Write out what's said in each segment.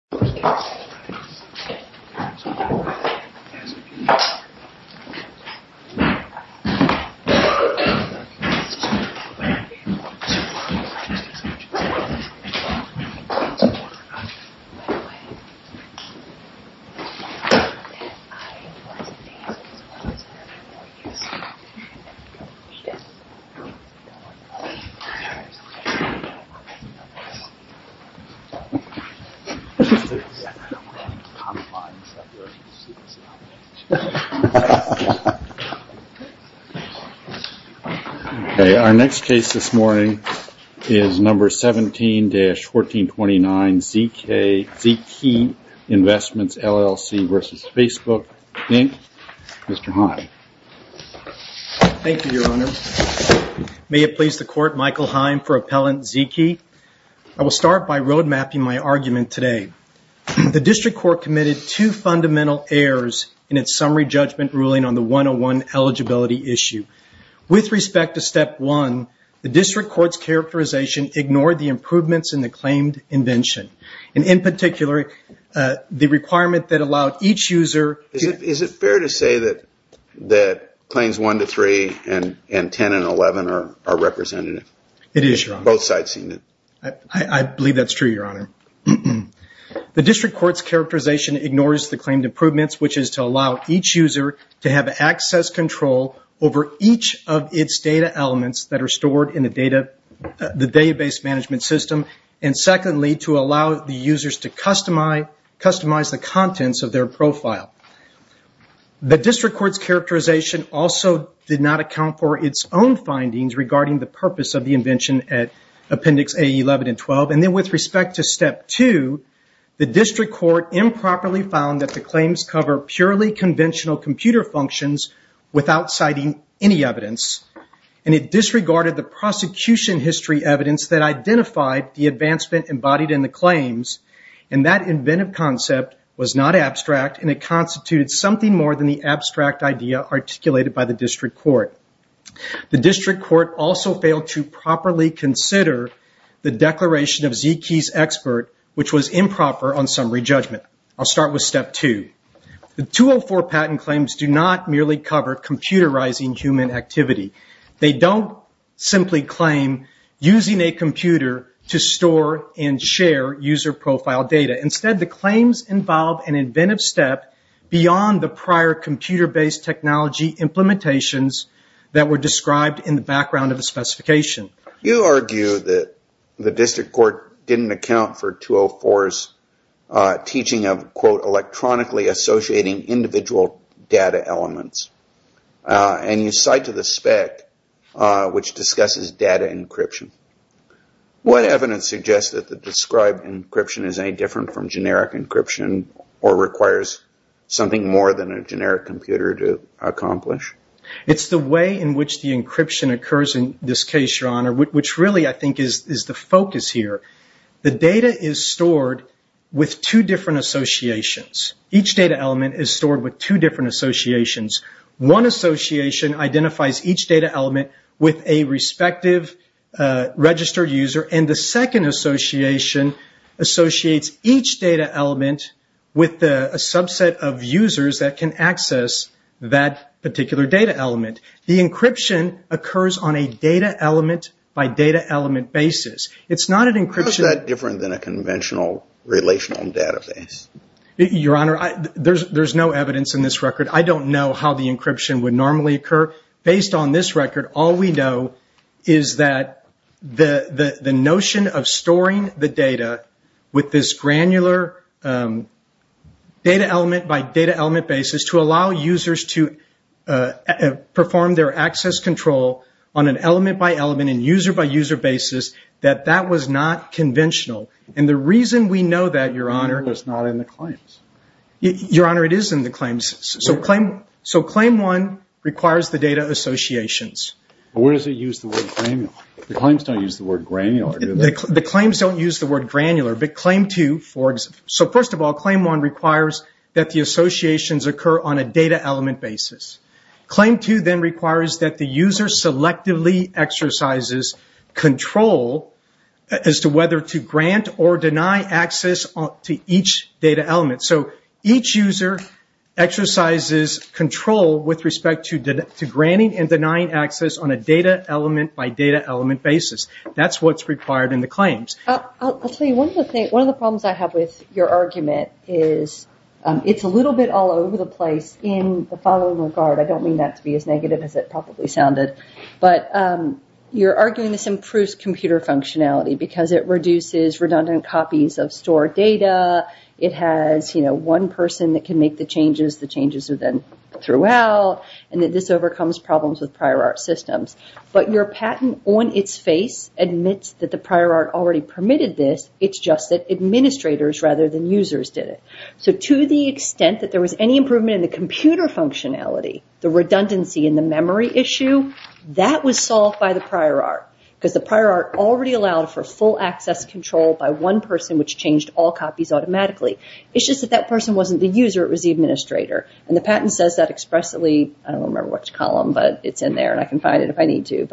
This video was recorded on February 20, 2021 at the Facebook office. I am sorry for the inconvenience. I am sorry for the inconvenience. I am sorry for the inconvenience. I am sorry for the inconvenience. I am sorry for the inconvenience. Our next case this morning is number 17-1429 ZKey Investments, LLC v. Facebook, Inc. Mr. Heim. Thank you, Your Honor. May it please the Court, Michael Heim for Appellant ZKey. I will start by road mapping my argument today. The District Court committed two fundamental errors in its Summary Judgment Ruling on the 101 eligibility issue. With respect to Step 1, the District Court's characterization ignored the improvements in the claimed invention, and in particular, the requirement that allowed each user Is it fair to say that Claims 1-3 and 10-11 are representative? It is, Your Honor. Both sides seen it. I believe that is true, Your Honor. The District Court's characterization ignores the claimed improvements, which is to allow each user to have access control over each of its data elements that are stored in the database management system, and secondly, to allow the users to customize the contents of their profile. The District Court's characterization also did not account for its own findings regarding the purpose of the invention at Appendix A-11 and 12. With respect to Step 2, the District Court improperly found that the claims cover purely conventional computer functions without citing any evidence, and it disregarded the prosecution history evidence that identified the advancement embodied in the claims, and that inventive concept was not abstract, and it constituted something more than the abstract idea articulated by the District Court. The District Court also failed to properly consider the declaration of some re-judgment. I'll start with Step 2. The 204 patent claims do not merely cover computerizing human activity. They don't simply claim using a computer to store and share user profile data. Instead, the claims involve an inventive step beyond the prior computer-based technology implementations that were described in the background of the specification. You argue that the District Court didn't account for 204's teaching of, quote, electronically associating individual data elements, and you cite to the spec which discusses data encryption. What evidence suggests that the described encryption is any different from generic encryption or requires something more than a generic computer to monitor, which really I think is the focus here. The data is stored with two different associations. Each data element is stored with two different associations. One association identifies each data element with a respective registered user, and the second association associates each data element with a subset of users that can access that data element on a data element-by-data element basis. How is that different than a conventional relational database? Your Honor, there's no evidence in this record. I don't know how the encryption would normally occur. Based on this record, all we know is that the notion of storing the data with this granular data element-by-data element basis to allow users to perform their access control on an element-by-element and user-by-user basis, that that was not conventional. The reason we know that, Your Honor... Claim one requires the data associations. The claims don't use the word granular, do they? First of all, claim one requires that the associations occur on a data element basis. Claim two then requires that the user selectively exercises control as to whether to grant or deny access to each data element. Each user exercises control with respect to granting and denying access on a data element-by-data element basis. That's what's required in the claims. One of the problems I have with your argument is it's a little bit all over the place in the following regard. I don't mean that to be as negative as it probably sounded. You're arguing this improves computer functionality because it reduces redundant copies of stored data. It has one person that can make the changes, the changes are then throughout and this overcomes problems with prior art systems. Your patent on its face admits that the prior art already permitted this. It's just that administrators rather than users did it. To the extent that there was any improvement in the computer functionality, the redundancy in the memory issue, that was solved by the prior art because the prior art already allowed for full access control by one person which changed all copies automatically. It's just that that person wasn't the user, it was the administrator. The patent says that expressly. I don't remember which column, but it's in there and I can find it if I need to.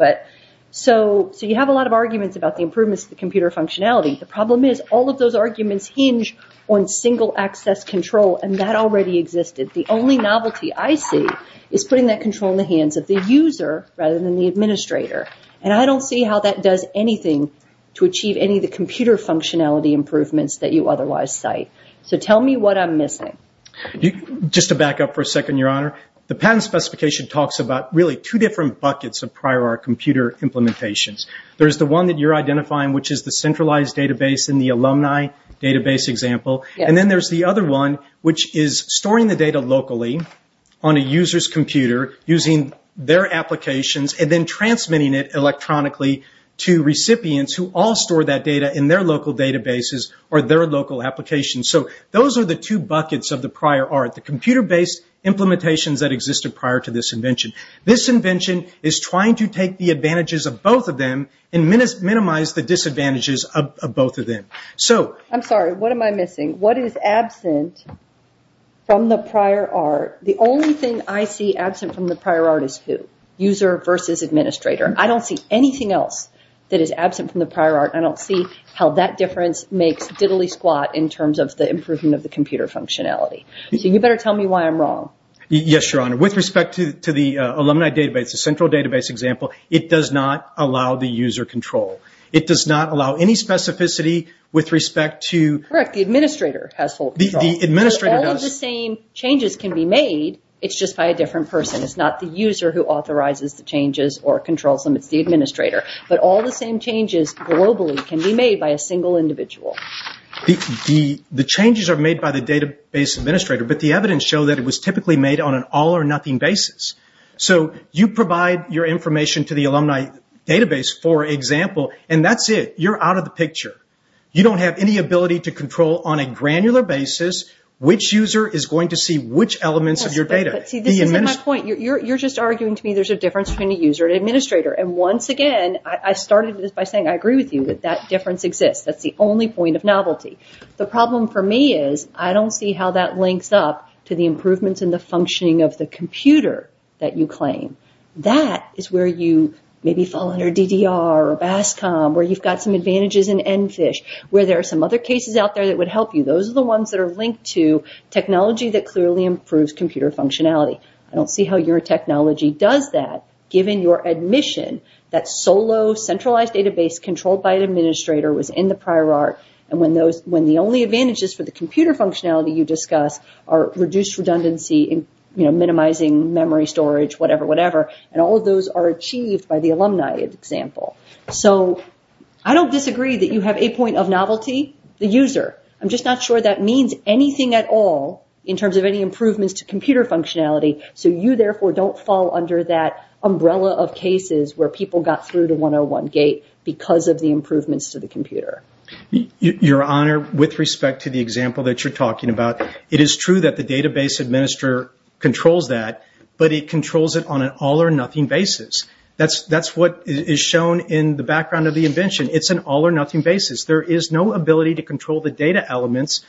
You have a lot of arguments about the improvements to the computer functionality. The problem is all of those arguments hinge on single access control and that already existed. The only novelty I see is putting that control in the hands of the user rather than the administrator. I don't see how that does anything to achieve any of the computer functionality improvements that you otherwise cite. Tell me what I'm missing. Just to back up for a second, Your Honor, the patent specification talks about two different buckets of prior art computer implementations. There's the one that you're identifying which is the centralized database in the alumni database example and then there's the other one which is storing the data locally on a user's computer using their applications and then transmitting it electronically to recipients who all store that data in their local databases or their local applications. Those are the two buckets of the prior art, the computer based implementations that existed prior to this invention. This invention is trying to take the advantages of both of them and minimize the disadvantages of both of them. I'm sorry, what am I missing? What is absent from the prior art? The only thing I see absent from the prior art is who? User versus administrator. I don't see anything else that is absent from the prior art. I don't see how that difference makes diddly squat in terms of the improvement of the computer functionality. You better tell me why I'm wrong. Yes, Your Honor. With respect to the alumni database, the central database example, it does not allow the user control. It does not allow any specificity with respect to... Correct, the administrator has full control. All of the same changes can be made, it's just by a different person. It's not the user who authorizes the changes or controls them, it's the administrator. All the same changes globally can be made by a single individual. The changes are made by the database administrator, but the evidence show that it was typically made on an all or nothing basis. You provide your information to the alumni database, for example, and that's it. You're out of the picture. You don't have any ability to control on a granular basis which user is going to see which elements of your data. You're just arguing to me there's a difference between a user and administrator. Once again, I started this by saying I agree with you that that difference exists. That's the only point of novelty. The problem for me is I don't see how that links up to the improvements in the functioning of the computer that you claim. That is where you maybe fall under DDR or BASCOM, where you've got some advantages in ENFISH, where there are some other cases out there that would help you. Those are the ones that are linked to technology that clearly improves computer functionality. I don't see how your technology does that, given your admission that solo centralized database controlled by an administrator was in the prior art. When the only advantages for the computer functionality you discuss are reduced redundancy and minimizing memory storage, whatever, whatever, and all of those are achieved by the alumni example. I don't disagree that you have a point of novelty, the user. I'm just not sure that means anything at all in terms of any improvements to computer functionality, so you therefore don't fall under that umbrella of cases where people got through the 101 gate because of the improvements to the computer. Your Honor, with respect to the example that you're talking about, it is true that the database administrator controls that, but it controls it on an all or nothing basis. That's what is shown in the background of the invention. It's an all or nothing basis. There is no ability to control the data elements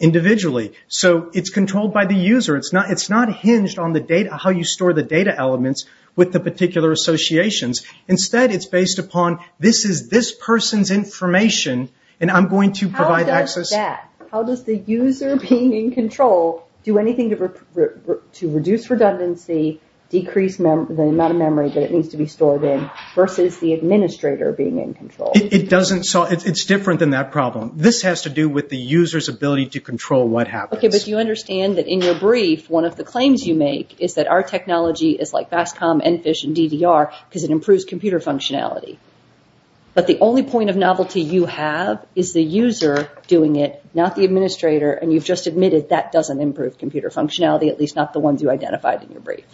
individually. It's controlled by the user. It's not hinged on how you store the data elements with the particular associations. Instead, it's based upon, this is this person's information, and I'm going to provide access. How does that, how does the user being in control do anything to reduce redundancy, decrease the amount of memory that it needs to be stored in, versus the administrator being in control? It's different than that problem. This has to do with the user's ability to control what happens. Okay, but you understand that in your brief, one of the claims you make is that our technology is like FastCom, EnFish, and DDR because it improves computer functionality. But the only point of novelty you have is the user doing it, not the administrator, and you've just admitted that doesn't improve computer functionality, at least not the ones you identified in your brief.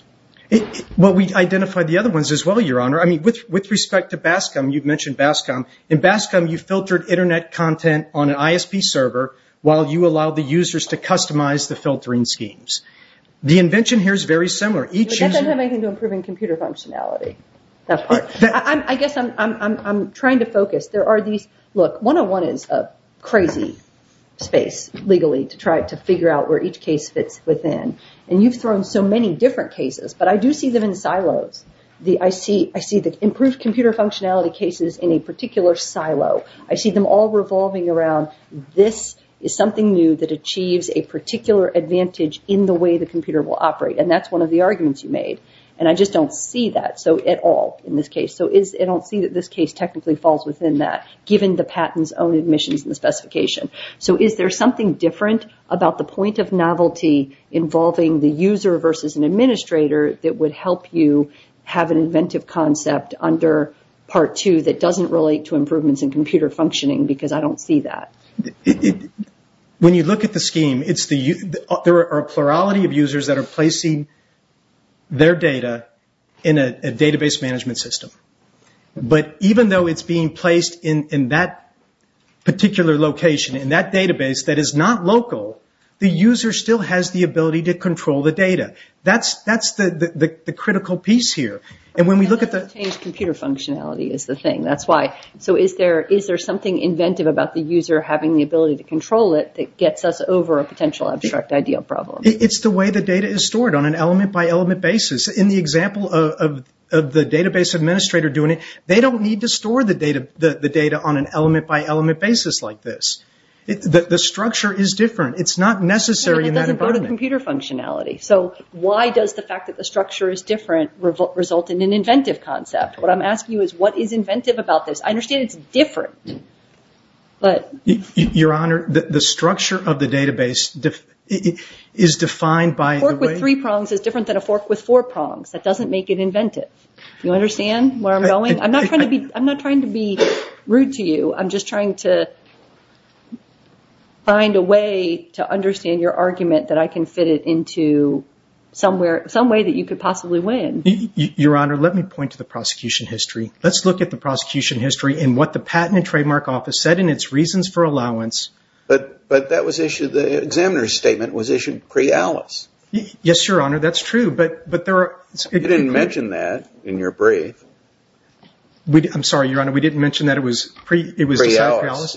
Well, we identified the other ones as well, Your Honor. With respect to Bascom, you've mentioned Bascom. In Bascom, you filtered Internet content on an ISP server while you allowed the users to customize the filtering schemes. The invention here is very similar. I guess I'm trying to focus. Look, 101 is a crazy space, legally, to try to figure out where each case fits within, and you've thrown so many different cases, but I do see them in silos. I see the improved computer functionality cases in a particular silo. I see them all revolving around this is something new that achieves a particular advantage in the way the computer will operate, and that's one of the arguments you made, and I just don't see that at all in this case. I don't see that this case technically falls within that, given the patent's own admissions and the specification. So is there something different about the point of novelty involving the user versus an administrator that would help you have an inventive concept under Part 2 that doesn't relate to improvements in computer functionality? Because I don't see that. When you look at the scheme, there are a plurality of users that are placing their data in a database management system. But even though it's being placed in that particular location in that database that is not local, the user still has the ability to control the data. That's the critical piece here. Computer functionality is the thing. Is there something inventive about the user having the ability to control it that gets us over a potential abstract ideal problem? It's the way the data is stored on an element-by-element basis. In the example of the database administrator doing it, they don't need to store the data on an element-by-element basis like this. The structure is different. It's not necessary in that environment. Why does the fact that the structure is different result in an inventive concept? What I'm asking you is, what is inventive about this? I understand it's different. A fork with three prongs is different than a fork with four prongs. That doesn't make it inventive. I'm not trying to be rude to you. I'm just trying to find a way to understand your argument that I can fit it into some way that you could possibly win. Your Honor, let me point to the prosecution history. Let's look at the prosecution history and what the Patent and Trademark Office said in its reasons for allowance. But the examiner's statement was issued pre-alice. Yes, Your Honor, that's true. You didn't mention that in your brief. I'm sorry, Your Honor, we didn't mention that it was decided pre-alice.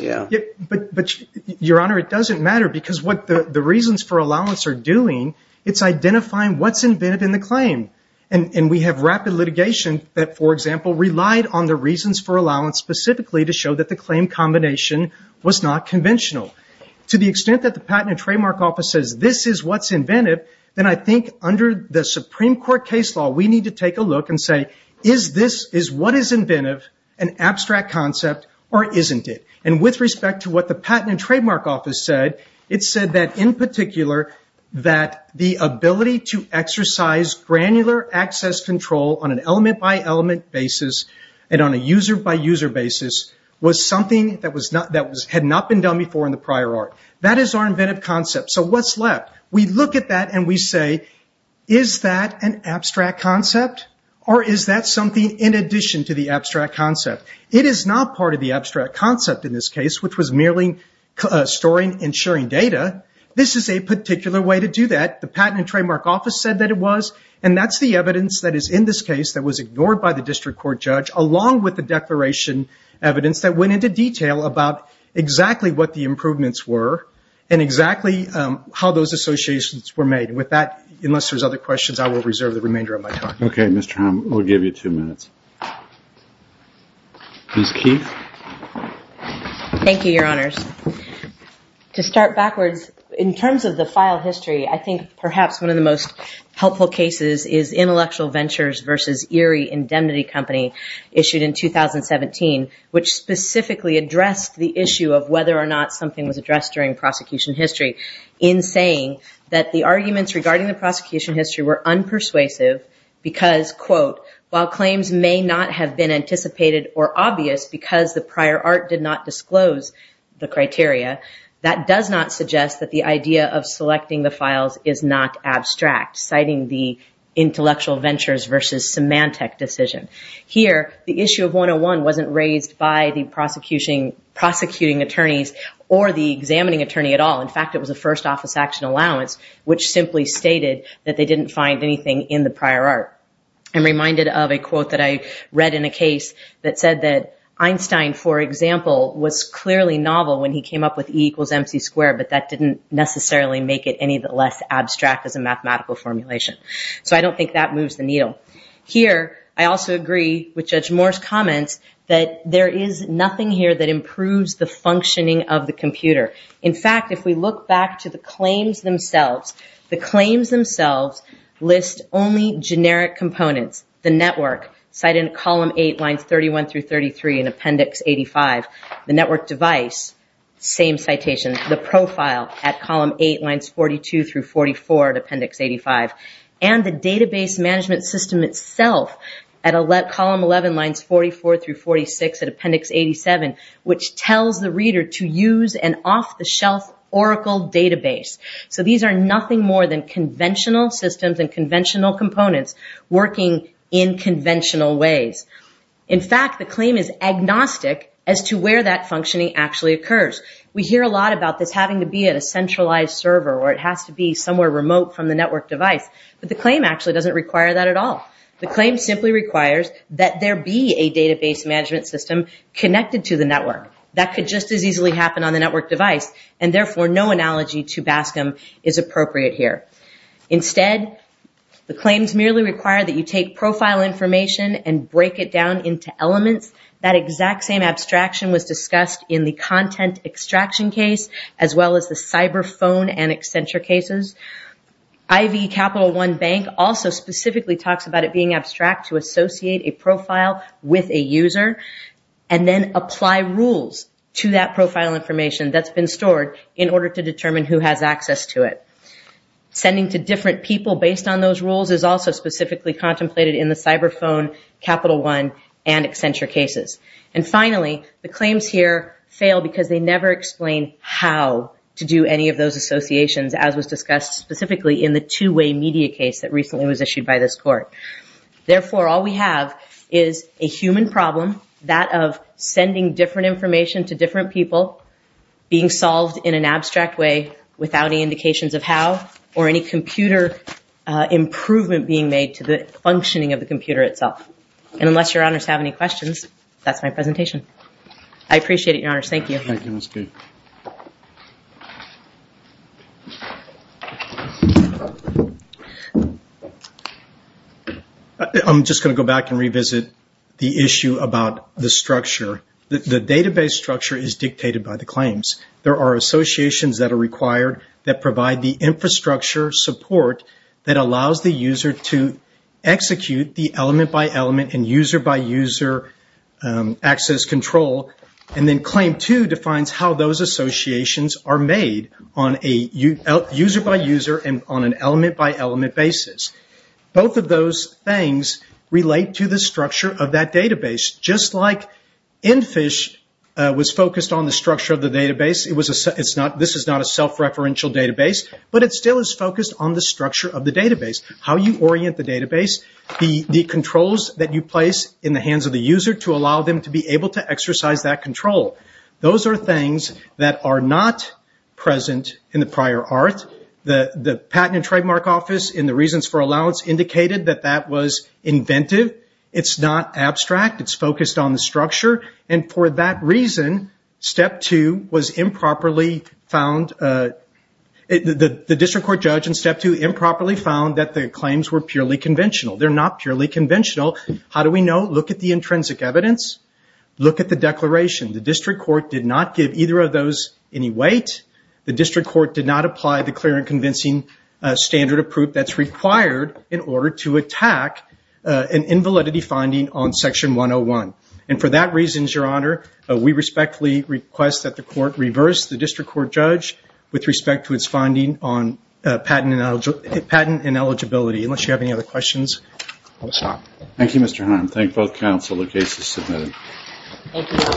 But, Your Honor, it doesn't matter because what the reasons for allowance are doing, it's identifying what's inventive in the claim. We have rapid litigation that, for example, relied on the reasons for allowance specifically to show that the claim combination was not conventional. To the extent that the Patent and Trademark Office says this is what's inventive, then I think under the Supreme Court case law, we need to take a look and say, is what is inventive an abstract concept or isn't it? With respect to what the Patent and Trademark Office said, it said that, in particular, that the ability to exercise granular access control on an element-by-element basis and on a user-by-user basis was something that had not been done before in the prior art. That is our inventive concept. So what's left? We look at that and we say, is that an abstract concept or is that something in addition to the abstract concept? There's a particular way to do that. The Patent and Trademark Office said that it was, and that's the evidence that is in this case that was ignored by the district court judge, along with the declaration evidence that went into detail about exactly what the improvements were and exactly how those associations were made. With that, unless there's other questions, I will reserve the remainder of my time. Okay, Mr. Hamm, we'll give you two minutes. Ms. Keith? Thank you, Your Honors. To start backwards, in terms of the file history, I think perhaps one of the most helpful cases is Intellectual Ventures v. Erie Indemnity Company, issued in 2017, which specifically addressed the issue of whether or not something was addressed during prosecution history in saying that the arguments regarding the prosecution history were unpersuasive because, quote, while claims may not have been anticipated or obvious because the prior art did not disclose the criteria, that does not suggest that the idea of selecting the files is not abstract, citing the Intellectual Ventures v. Symantec decision. Here, the issue of 101 wasn't raised by the prosecuting attorneys or the examining attorney at all. In fact, it was a first office action allowance, which simply stated that they didn't find anything in the prior art. I'm reminded of a quote that I read in a case that said that Einstein, for example, was clearly novel when he came up with E equals MC squared, but that didn't necessarily make it any less abstract as a mathematical formulation. So I don't think that moves the needle. Here, I also agree with Judge Moore's comments that there is nothing here that improves the functioning of the computer. In fact, if we look back to the claims themselves, the claims themselves list only generic components. The network, cited in column 8, lines 31 through 33 in appendix 85. The network device, same citation. The profile at column 8, lines 42 through 44 at appendix 85. And the database management system itself at column 11, lines 44 through 46 at appendix 87, which tells the reader to use an off-the-shelf Oracle database. So these are nothing more than conventional systems and conventional components working in conventional ways. In fact, the claim is agnostic as to where that functioning actually occurs. We hear a lot about this having to be at a centralized server or it has to be somewhere remote from the network device, but the claim actually doesn't require that at all. The claim simply requires that there be a database management system connected to the network. That could just as easily happen on the network device, and therefore no analogy to BASCM is appropriate here. Instead, the claims merely require that you take profile information and break it down into elements. That exact same abstraction was discussed in the content extraction case, as well as the cyber phone and Accenture cases. IV Capital One Bank also specifically talks about it being abstract to associate a profile with a user, and then apply rules to that profile information that's been stored in order to determine who has access to it. Sending to different people based on those rules is also specifically contemplated in the cyber phone, Capital One, and Accenture cases. Finally, the claims here fail because they never explain how to do any of those associations, as was discussed specifically in the two-way media case that recently was issued by this court. Therefore, all we have is a human problem, that of sending different information to different people, being solved in an abstract way without any indications of how, or any computer improvement being made to the functioning of the computer itself. And unless your honors have any questions, that's my presentation. I appreciate it, your honors. Thank you. I'm just going to go back and revisit the issue about the structure. Support that allows the user to execute the element-by-element and user-by-user access control, and then Claim 2 defines how those associations are made, user-by-user and on an element-by-element basis. Both of those things relate to the structure of that database, just like ENFISH was focused on the structure of the database. This is not a self-referential database, but it still is focused on the structure of the database, how you orient the database, the controls that you place in the hands of the user to allow them to be able to exercise that control. Those are things that are not present in the prior art. The Patent and Trademark Office, in the Reasons for Allowance, indicated that that was inventive. It's not abstract, it's focused on the structure, and for that reason, Step 2 was improperly found, the district court judge in Step 2 improperly found that the claims were purely conventional. They're not purely conventional. How do we know? Look at the intrinsic evidence. Look at the declaration. The district court did not give either of those any weight. The district court did not apply the clear and convincing standard of proof that's required in order to attack an invalidity finding on Section 101. And for that reason, Your Honor, we respectfully request that the court reverse the district court judge with respect to its finding on patent ineligibility. Unless you have any other questions, we'll stop.